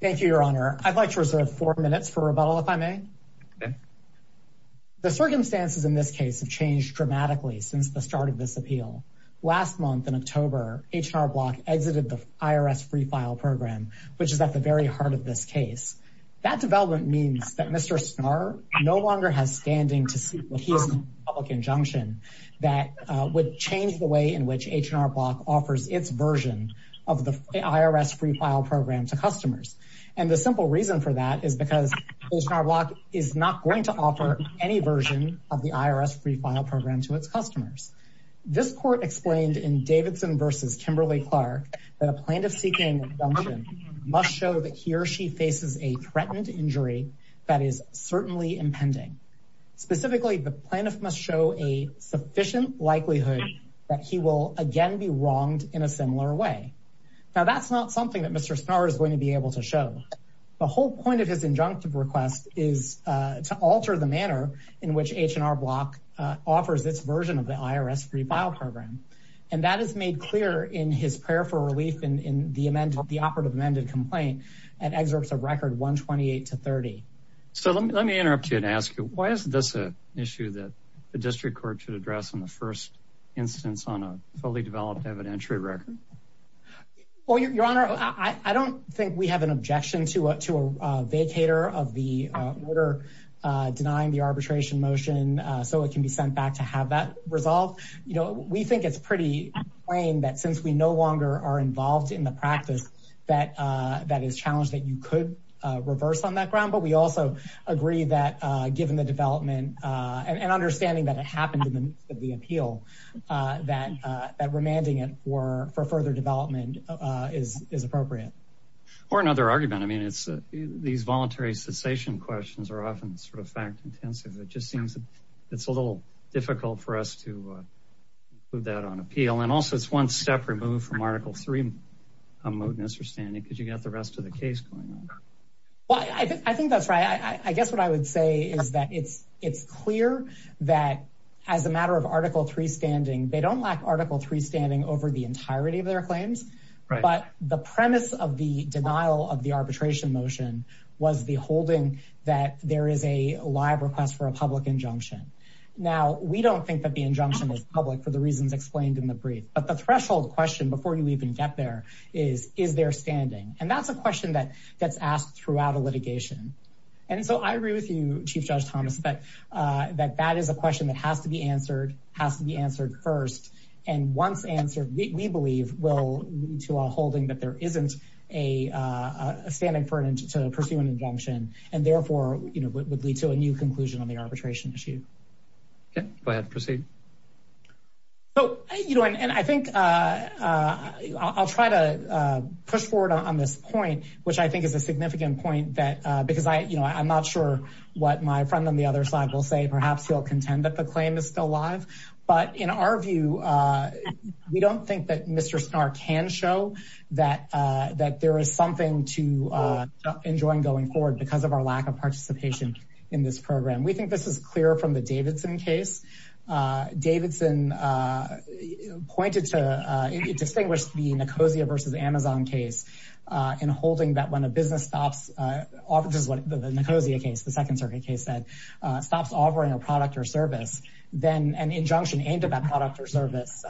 Thank you, Your Honor. I'd like to reserve four minutes for rebuttal, if I may. The circumstances in this case have changed dramatically since the start of this appeal. Last month, in October, H&R Block exited the IRS Free File Program, which is at the very heart of this case. That development means that Mr. Snarr no longer has standing to sue, but he has a public injunction that would change the way in which H&R Block offers its version of the IRS Free File Program to its customers. And the simple reason for that is because H&R Block is not going to offer any version of the IRS Free File Program to its customers. This court explained in Davidson v. Kimberly-Clark that a plaintiff seeking injunction must show that he or she faces a threatened injury that is certainly impending. Specifically, the plaintiff must show a sufficient likelihood that he will again be wronged in a similar way. Now, that's not something that Mr. Snarr is going to be able to show. The whole point of his injunctive request is to alter the manner in which H&R Block offers its version of the IRS Free File Program. And that is made clear in his prayer for relief in the operative amended complaint at excerpts of record 128 to 30. So let me interrupt you and ask you, why is this an issue that the district court should address in the first instance on a fully developed evidentiary record? Well, Your Honor, I don't think we have an objection to a vacator of the order denying the arbitration motion so it can be sent back to have that resolved. You know, we think it's pretty plain that since we no longer are involved in the practice that is challenged that you could reverse on that ground. But we also agree that given the development and understanding that it happened in the midst of the appeal, that remanding it for further development is appropriate. Or another argument. I mean, these voluntary cessation questions are often sort of fact-intensive. It just seems that it's a little difficult for us to include that on appeal. And also, it's one step removed from Article 3 mootness or standing because you got the rest of the case going on. Well, I think that's right. I guess what I would say is that it's clear that as a matter of Article 3 standing, they don't lack Article 3 standing over the entirety of their claims. But the premise of the denial of the arbitration motion was the holding that there is a live request for a public injunction. Now, we don't think that the injunction is public for the reasons explained in the brief. But the threshold question before you even get there is, is there standing? And that's a question that gets asked throughout a litigation. And so I agree with you, Chief Judge Thomas, that that is a question that has to be answered, has to be answered first. And once answered, we believe will lead to a holding that there isn't a standing to pursue an injunction and therefore would lead to a new conclusion on the arbitration issue. Go ahead. Proceed. So, you know, and I think I'll try to push forward on this point, which I think is a significant point that because I, you know, I'm not sure what my friend on the other side will say. Perhaps he'll contend that the claim is still alive. But in our view, we don't think that Mr. Starr can show that that there is something to enjoy going forward because of our lack of participation in this program. We think this is clear from the Davidson case. Davidson pointed to, it distinguished the Nicosia versus Amazon case in holding that when a business stops, this is what the Nicosia case, the Second Circuit case said, stops offering a product or service, then an injunction aimed at that product or service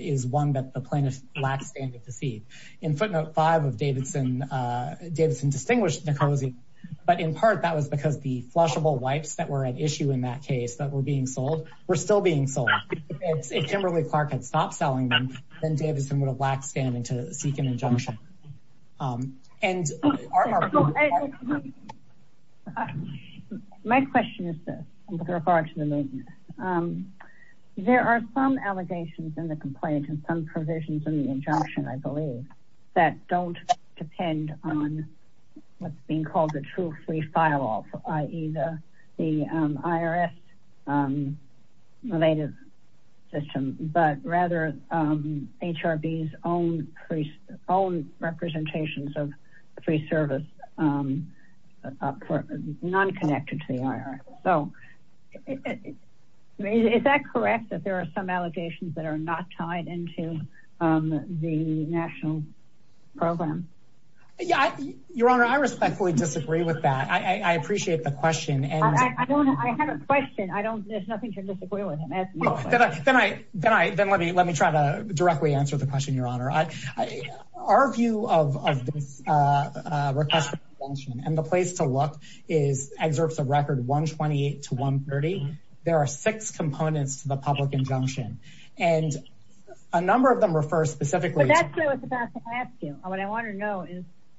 is one that the plaintiff lacks standing to see. In footnote five of Davidson, Davidson distinguished Nicosia, but in part that was because the flushable wipes that were at issue in that case that were being sold. If Kimberly Clark had stopped selling them, then Davidson would have lacked standing to seek an injunction. And our... My question is this, with regard to the mootness. There are some allegations in the complaint and some provisions in the injunction, I believe, that don't depend on what's being called the true free file off, i.e. the IRS-related system, but rather HRB's own representations of free service non-connected to the IRS. So, is that correct that there are some allegations that are not tied into the national program? Yeah, Your Honor, I respectfully disagree with that. I appreciate the question. I have a question. There's nothing to disagree with him. Then let me try to directly answer the question, Your Honor. Our view of this request for injunction and the place to look exerpts a record 128 to 130. There are six components to the public injunction, and a number of them refer specifically to... What I want to know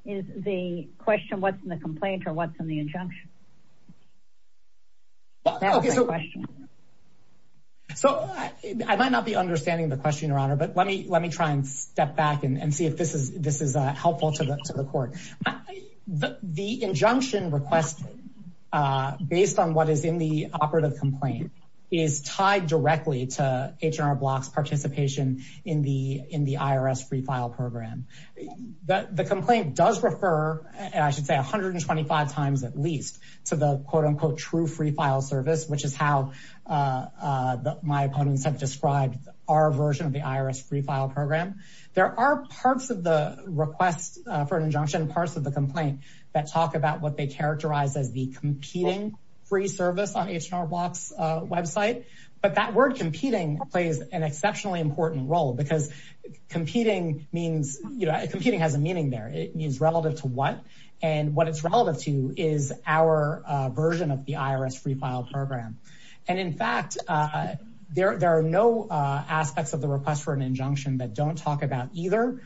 is the question, what's in the complaint or what's in the injunction? So, I might not be understanding the question, Your Honor, but let me try and step back and see if this is helpful to the court. The injunction request, based on what is in the operative complaint, is tied directly to H&R Block's participation in the IRS free file program. The complaint does refer, I should say, 125 times at least to the quote-unquote true free file service, which is how my opponents have described our version of the IRS free file program. There are parts of the request for an injunction, parts of the complaint that talk about what they website, but that word competing plays an exceptionally important role because competing has a meaning there. It means relative to what, and what it's relative to is our version of the IRS free file program. In fact, there are no aspects of the request for an injunction that don't talk about either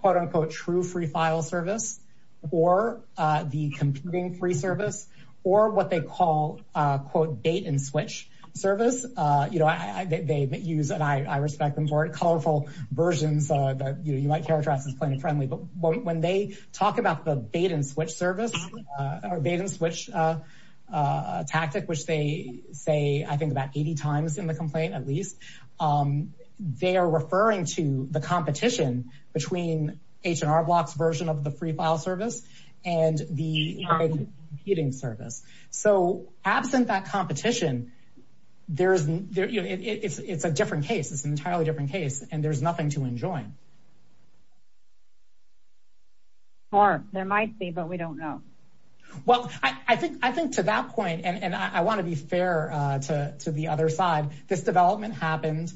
quote-unquote true free file service or the competing free service or what service. They use, and I respect them for it, colorful versions that you might characterize as plain and friendly, but when they talk about the bait-and-switch service or bait-and-switch tactic, which they say, I think, about 80 times in the complaint at least, they are referring to the competition between H&R Block's version of the free file service and the competing service. Absent that competition, it's a different case. It's an entirely different case, and there's nothing to enjoy. Or there might be, but we don't know. Well, I think to that point, and I want to be fair to the other side, this development happened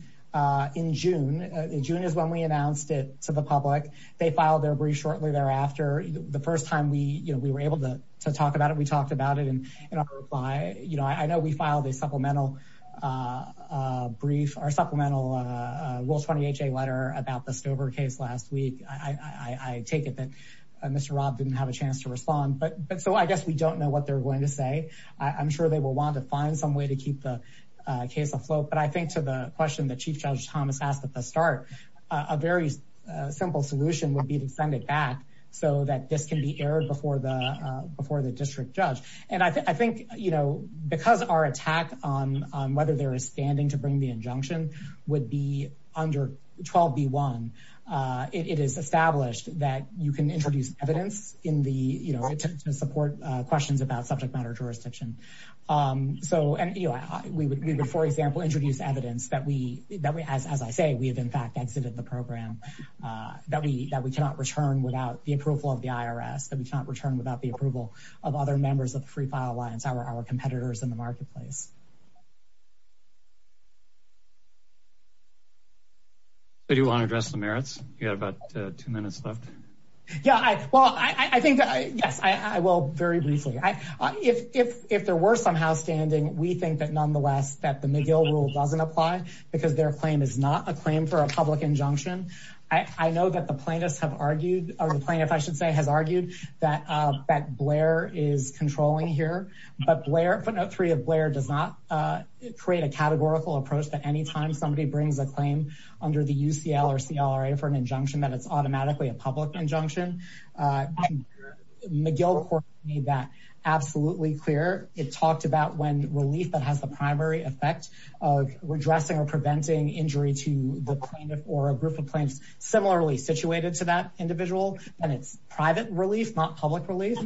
in June. June is when we announced it to the public. They filed their brief shortly thereafter. The first time we were able to talk about it, we talked about it in our reply. I know we filed a brief, our supplemental Rule 28J letter about the Stover case last week. I take it that Mr. Robb didn't have a chance to respond, but so I guess we don't know what they're going to say. I'm sure they will want to find some way to keep the case afloat, but I think to the question that Chief simple solution would be to send it back so that this can be aired before the district judge. I think because our attack on whether there is standing to bring the injunction would be under 12B1, it is established that you can introduce evidence to support questions about subject matter jurisdiction. We would, for example, introduce evidence that we, as I say, we have exited the program, that we cannot return without the approval of the IRS, that we cannot return without the approval of other members of the Free File Alliance, our competitors in the marketplace. Do you want to address the merits? You have about two minutes left. Yeah, well, I think, yes, I will very briefly. If there were somehow standing, we think that the McGill rule doesn't apply because their claim is not a claim for a public injunction. I know that the plaintiffs have argued, or the plaintiff, I should say, has argued that Blair is controlling here, but footnote three of Blair does not create a categorical approach that anytime somebody brings a claim under the UCL or CLA for an injunction, that it's automatically a public injunction. McGill court made that absolutely clear. It talked about when relief has the primary effect of redressing or preventing injury to the plaintiff or a group of plaintiffs similarly situated to that individual, then it's private relief, not public relief.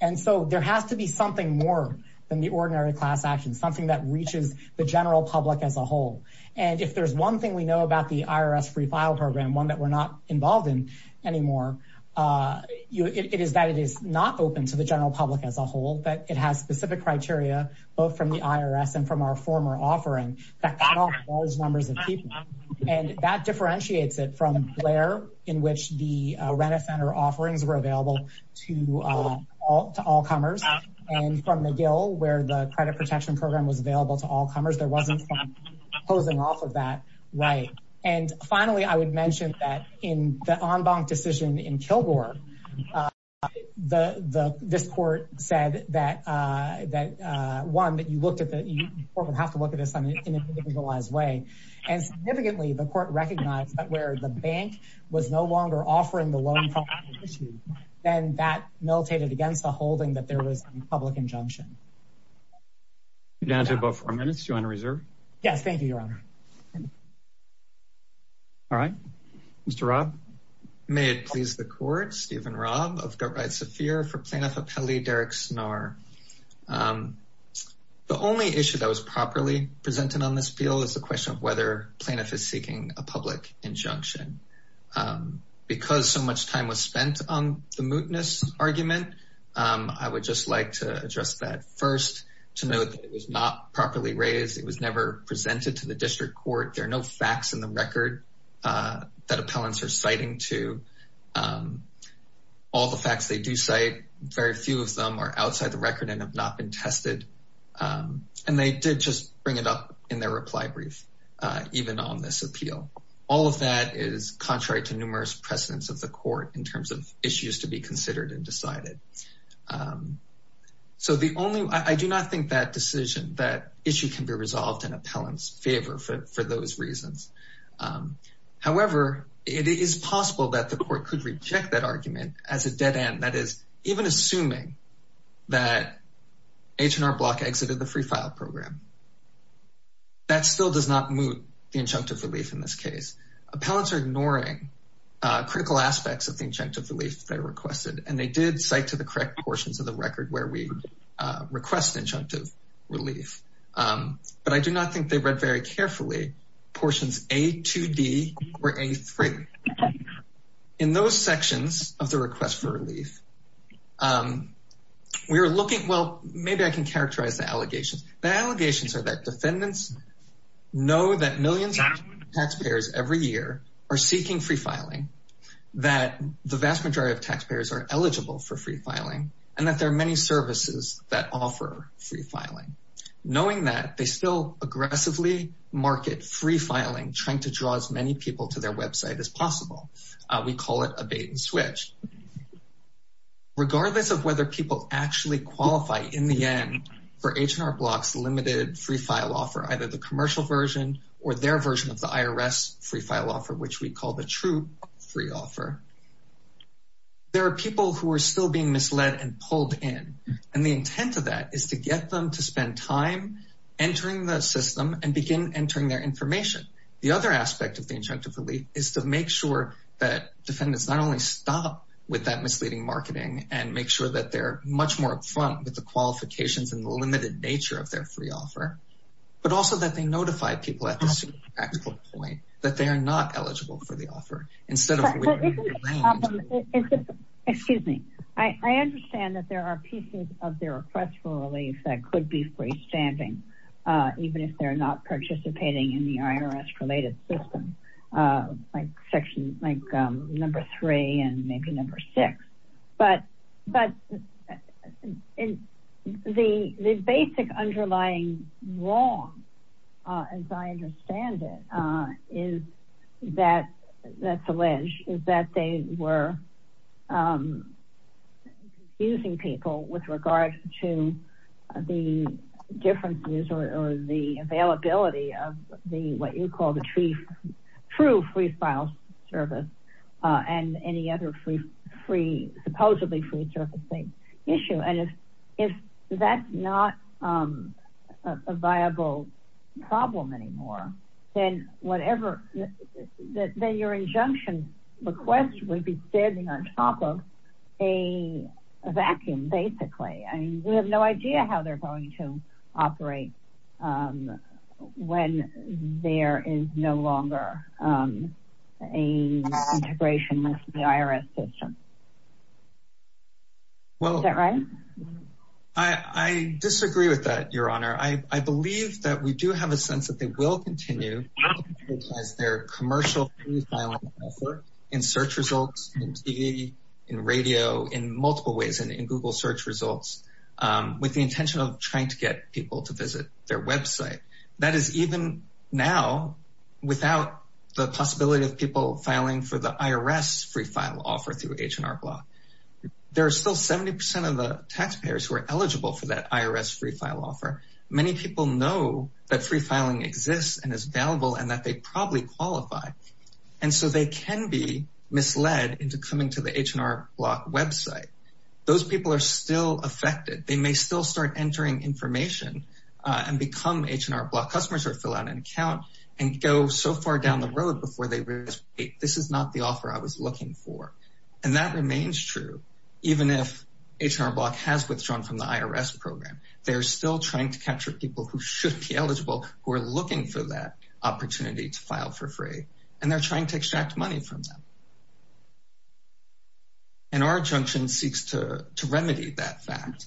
And so there has to be something more than the ordinary class action, something that reaches the general public as a whole. And if there's one thing we know about the IRS Free File Program, one that we're not involved in anymore, it is that it is not open to the general public as a whole, that it has specific criteria, both from the IRS and from our former offering, that can offer large numbers of people. And that differentiates it from Blair, in which the rent-a-center offerings were available to all comers, and from McGill, where the credit protection program was available to all comers. There wasn't something opposing off of that right. And finally, I would mention that in the EnBank decision in Kilgore, the, this court said that, that one, that you looked at the, the court would have to look at this in an individualized way. And significantly, the court recognized that where the bank was no longer offering the loan property issue, then that militated against the holding that there was a public injunction. You're down to about four minutes. Do you want to reserve? Yes, I do. Thank you. Thank you so much, Stephen Robb of GoatRide Saphir for Plaintiff Appellee Derrick Snarr. The only issue that was properly presented on this bill is the question of whether plaintiff is seeking a public injunction. Because so much time was spent on the mootness argument, I would just like to address that first, to note that it was not properly raised. It was never presented to the district court. There are no facts in the record that appellants are citing to all the facts they do cite. Very few of them are outside the record and have not been tested. And they did just bring it up in their reply brief, even on this appeal. All of that is contrary to numerous precedents of the court in terms of issues to be considered and decided. So the only, I do not think that decision, that issue can be resolved in appellant's favor for those reasons. However, it is possible that the court could reject that argument as a dead end. That is, even assuming that H&R Block exited the free file program, that still does not moot the injunctive relief in this case. Appellants are ignoring critical aspects of the injunctive relief they requested. And they did cite to the correct portions of the record where we injunctive relief. But I do not think they read very carefully portions A2D or A3. In those sections of the request for relief, we are looking, well, maybe I can characterize the allegations. The allegations are that defendants know that millions of taxpayers every year are seeking free filing, that the vast majority of taxpayers are eligible for free filing, and that there are many services that offer free filing. Knowing that, they still aggressively market free filing, trying to draw as many people to their website as possible. We call it a bait and switch. Regardless of whether people actually qualify in the end for H&R Block's limited free file offer, either the commercial version or their version of the IRS free file offer, which we call the true free offer, there are people who are still being misled and pulled in. And the intent of that is to get them to spend time entering the system and begin entering their information. The other aspect of the injunctive relief is to make sure that defendants not only stop with that misleading marketing and make sure that they're much more upfront with the qualifications and the limited nature of their free offer, but also that they notify people at this practical point that they are not eligible for the offer. Excuse me. I understand that there are pieces of their request for relief that could be freestanding, even if they're not participating in the IRS related system, like section, like number three and maybe number six. But the basic underlying wrong, as I understand it, is that they were confusing people with regard to the differences or the availability of what you call the true free file service and any other free, supposedly free surfacing issue. And if that's not a viable problem anymore, then whatever, then your injunction request would be standing on top of a vacuum, basically. I mean, we have no idea how they're going to operate when there is no longer an integration with the IRS system. Well, I disagree with that, Your Honor. I believe that we do have a sense that they will continue as their commercial free filing effort in search results, in TV, in radio, in multiple ways, in Google search results, with the intention of trying to get people to visit their website. That is even now, without the possibility of people filing for the IRS free file offer through H&R Block. There are still 70% of the taxpayers who are eligible for that IRS free file offer. Many people know that free filing exists and is available and that they probably qualify. And so they can be misled into coming to the H&R Block website. Those people are still affected. They may still start entering information and become H&R Block customers or fill out an account and go so far down the road before they realize, wait, this is not the offer I was looking for. And that remains true, even if H&R Block has withdrawn from the IRS program. They're still trying to capture people who should be eligible, who are looking for that opportunity to file for free. And they're trying to extract money from them. And our junction seeks to remedy that fact,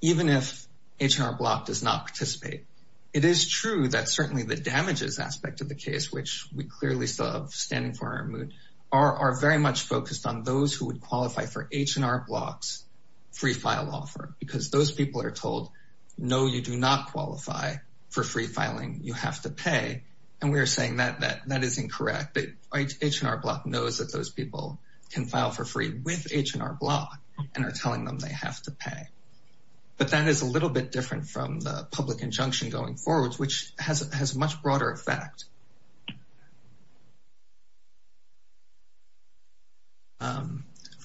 even if H&R Block does not participate. It is true that certainly the damages aspect of the case, which we clearly still have standing for in our mood, are very much focused on those who would qualify for H&R Block's free file offer, because those people are told, no, you do not qualify for free filing, you have to pay. And we're saying that that is incorrect. H&R Block knows that those people can file for free with H&R Block and are telling them they have to pay. But that is a little bit different from the public injunction going forward, which has much broader effect.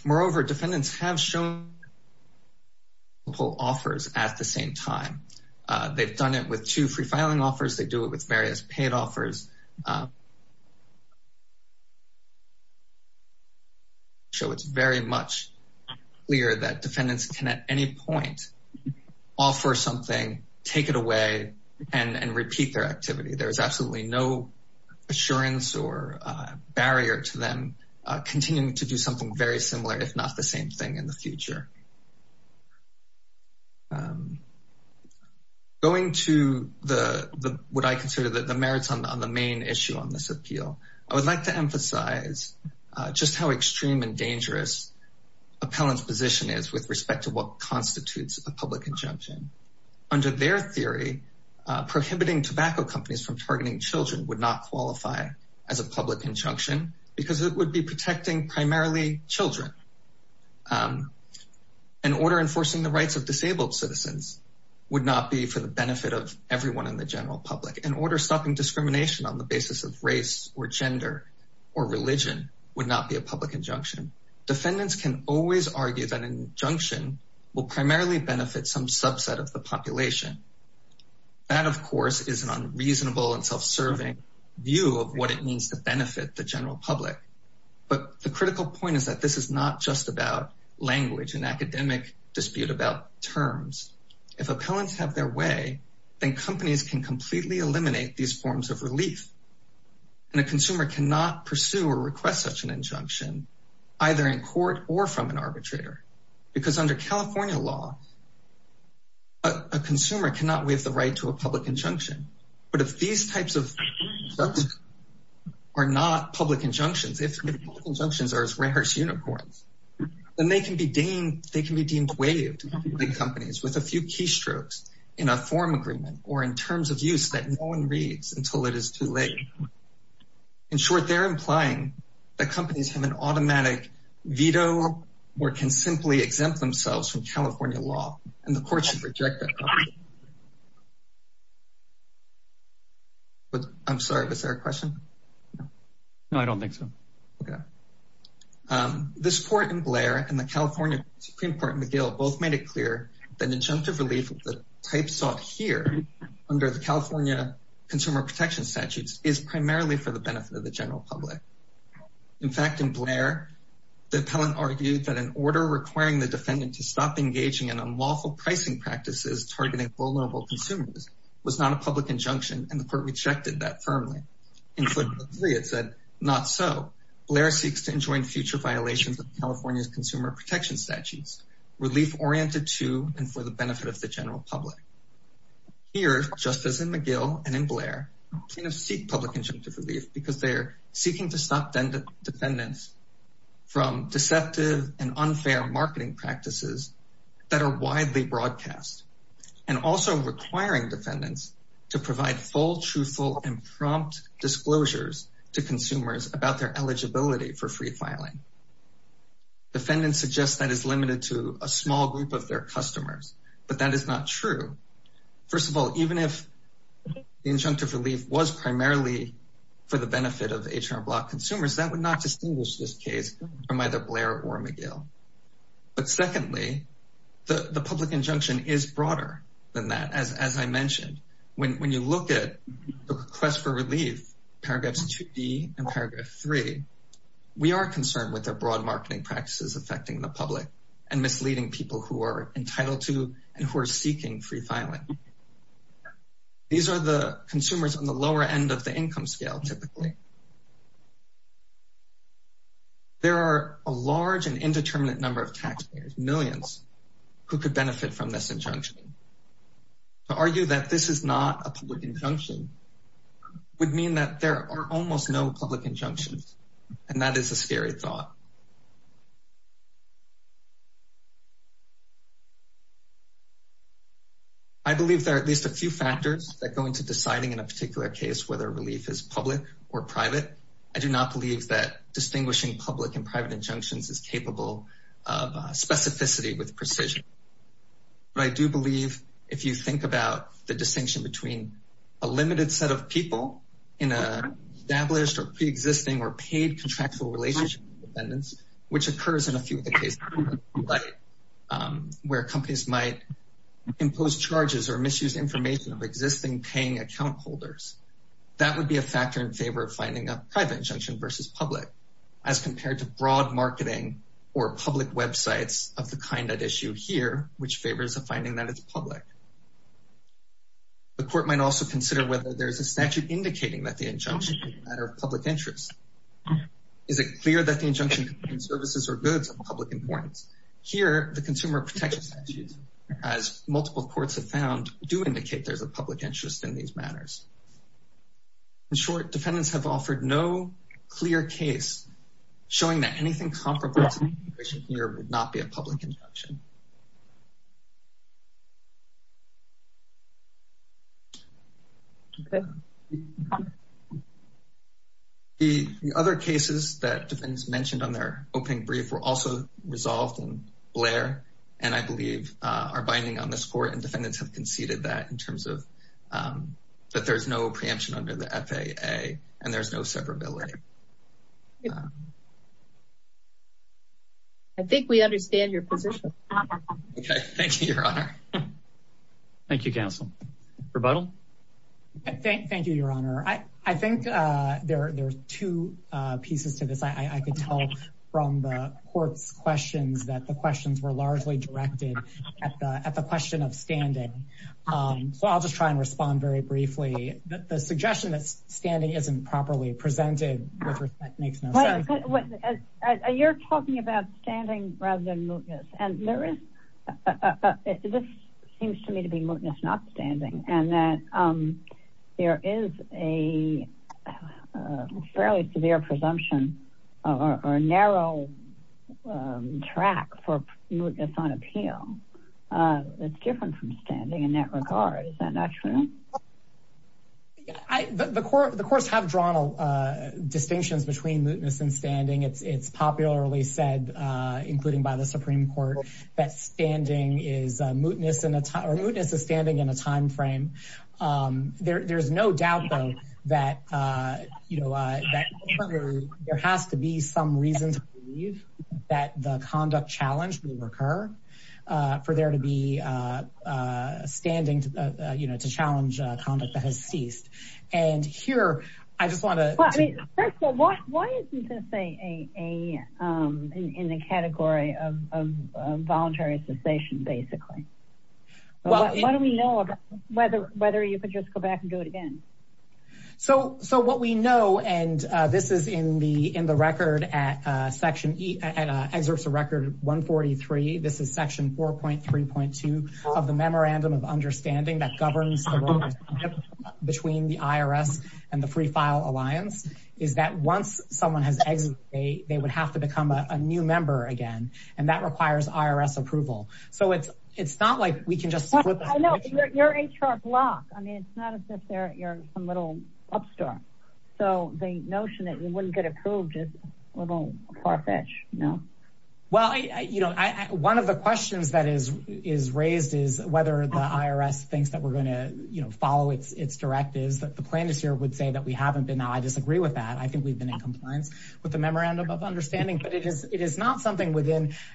Moreover, defendants have shown multiple offers at the same time. They've done it with two free offers. So it's very much clear that defendants can at any point offer something, take it away, and repeat their activity. There's absolutely no assurance or barrier to them continuing to do something very similar, if not the same thing in the future. Going to what I consider the merits on the main issue on this appeal. I would like to emphasize just how extreme and dangerous appellant's position is with respect to what constitutes a public injunction. Under their theory, prohibiting tobacco companies from targeting children would not qualify as a public injunction, because it would be protecting primarily children. An order enforcing the rights of disabled citizens would not be for the benefit of everyone in the general public. An order stopping discrimination on the basis of race or gender or religion would not be a public injunction. Defendants can always argue that an injunction will primarily benefit some subset of the population. That, of course, is an unreasonable and self-serving view of what it means to benefit the general public. But the critical point is that this is not just about language and academic dispute about terms. If appellants have their way, then companies can completely eliminate these forms of relief. A consumer cannot pursue or request such an injunction, either in court or from an arbitrator, because under California law, a consumer cannot waive the right to a public injunction. But if these types of subjects are not public injunctions, if public injunctions are as rare as unicorns, then they can be deemed waived by companies with a few keystrokes in a form agreement or in terms of use that no one reads until it is too late. In short, they're implying that companies have an automatic veto or can simply exempt themselves from California law, and the courts should reject that. I'm sorry, was there a question? No, I don't think so. Okay. This court in Blair and the California Supreme Court in McGill both made it clear that injunctive relief of the types sought here under the California Consumer Protection Statutes is primarily for the benefit of the general public. In fact, in Blair, the appellant argued that an order requiring the defendant to stop engaging in unlawful pricing practices targeting vulnerable consumers was not a public injunction, and the court rejected that firmly. In footnote three, it said, not so. Blair seeks to enjoin future violations of California's Consumer Protection Statutes, relief-oriented to and for the benefit of the general public. Here, just as in McGill and in Blair, plaintiffs seek public injunctive relief because they're seeking to stop defendants from deceptive and that are widely broadcast, and also requiring defendants to provide full, truthful, and prompt disclosures to consumers about their eligibility for free filing. Defendants suggest that is limited to a small group of their customers, but that is not true. First of all, even if the injunctive relief was primarily for the benefit of H&R Block consumers, that would not distinguish this case from either Blair or McGill. But secondly, the public injunction is broader than that, as I mentioned. When you look at the request for relief, paragraphs 2D and paragraph 3, we are concerned with the broad marketing practices affecting the public and misleading people who are entitled to and who are seeking free filing. These are the reasons. There are a large and indeterminate number of taxpayers, millions, who could benefit from this injunction. To argue that this is not a public injunction would mean that there are almost no public injunctions, and that is a scary thought. I believe there are at least a few factors that go into deciding in a particular case whether relief is public or private. I do not believe distinguishing public and private injunctions is capable of specificity with precision, but I do believe if you think about the distinction between a limited set of people in an established or pre-existing or paid contractual relationship with defendants, which occurs in a few of the cases where companies might impose charges or misuse information of existing paying account holders, that would be a factor in favor of finding a private injunction versus public, as compared to broad marketing or public websites of the kind at issue here, which favors the finding that it's public. The court might also consider whether there's a statute indicating that the injunction is a matter of public interest. Is it clear that the injunction contains services or goods of public importance? Here, the consumer protection statutes, as multiple courts have found, do indicate there's a public interest in these matters. In short, defendants have offered no clear case showing that anything comparable to the situation here would not be a public injunction. The other cases that defendants mentioned on their opening brief were also resolved in Blair, and I believe are binding on this court, and defendants have conceded that in terms of that there's no preemption under the FAA and there's no severability. I think we understand your position. Okay, thank you, Your Honor. Thank you, counsel. Rebuttal? Thank you, Your Honor. I think there are two pieces to this. I could tell from the court's questions that the questions were largely directed at the question of standing, so I'll just try and respond very briefly. The suggestion that standing isn't properly presented makes no sense. You're talking about standing rather than mootness, and this seems to me to be mootness not standing, and that there is a fairly severe presumption or narrow track for mootness on appeal. It's different from standing in that regard. Is that not true? The courts have drawn distinctions between mootness and standing. It's popularly said, including by the Supreme Court, that mootness is standing in a time frame. There's no doubt, though, that there has to be some reason to believe that the conduct challenge will recur for there to be standing to challenge conduct that has ceased. Why isn't this in the category of voluntary cessation, basically? Well, what do we know about whether you could just go back and do it again? So what we know, and this is in the record at Section 143, this is Section 4.3.2 of the Memorandum of Understanding that governs the relationship between the IRS and the Free File Alliance, is that once someone has exited, they would have to become a new member again, and that requires IRS approval. So it's not like we can just... You're HR block. It's not as if you're some little upstart. So the notion that you wouldn't get approved is a little far-fetched, no? Well, one of the questions that is raised is whether the IRS thinks that we're going to follow its directives. The plaintiffs here would say that we haven't been. Now, I disagree with that. I think we've been in compliance with the Memorandum of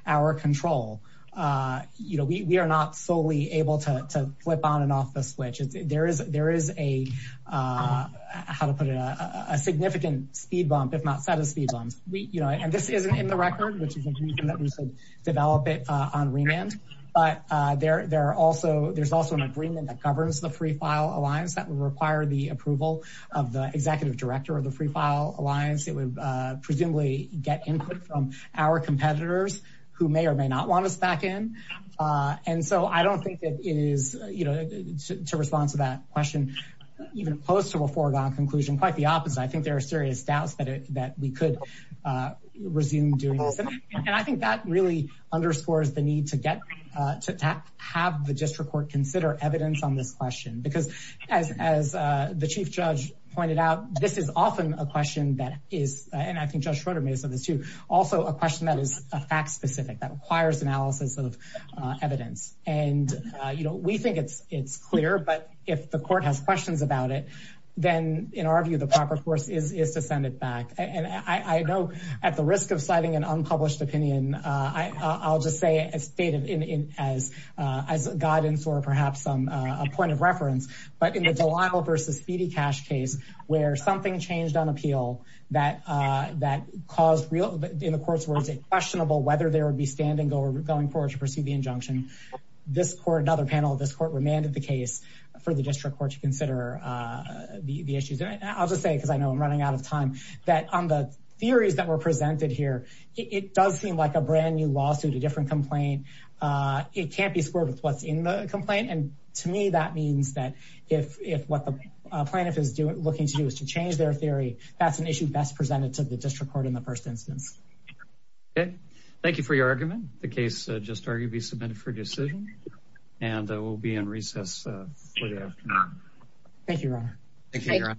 our control. We are not solely able to flip on and off the switch. There is a, how to put it, a significant speed bump, if not set of speed bumps. And this isn't in the record, which is a reason that we should develop it on remand. But there's also an agreement that governs the Free File Alliance that would require the approval of the executive director of the Free File Alliance. And so I don't think that it is, to respond to that question, even close to a foregone conclusion, quite the opposite. I think there are serious doubts that we could resume doing this. And I think that really underscores the need to get, to have the district court consider evidence on this question. Because as the Chief Judge pointed out, this is often a question that is, and I think Judge Schroeder may have said this, also a question that is fact-specific, that requires analysis of evidence. And we think it's clear, but if the court has questions about it, then in our view, the proper course is to send it back. And I know at the risk of citing an unpublished opinion, I'll just say as guidance or perhaps a point of reference, but in the Delisle v. Speedy Cash case, where something changed on appeal that caused real, in the court's words, questionable whether there would be standing going forward to pursue the injunction, this court, another panel of this court, remanded the case for the district court to consider the issues. And I'll just say, because I know I'm running out of time, that on the theories that were presented here, it does seem like a brand new lawsuit, a different complaint. It can't be squared with what's in the complaint. And to me, that means that if what the plaintiff is looking to do is to change their theory, that's an issue best presented to the district court in the first instance. Okay. Thank you for your argument. The case just arguably submitted for decision, and we'll be in recess for the afternoon. Thank you, Ron.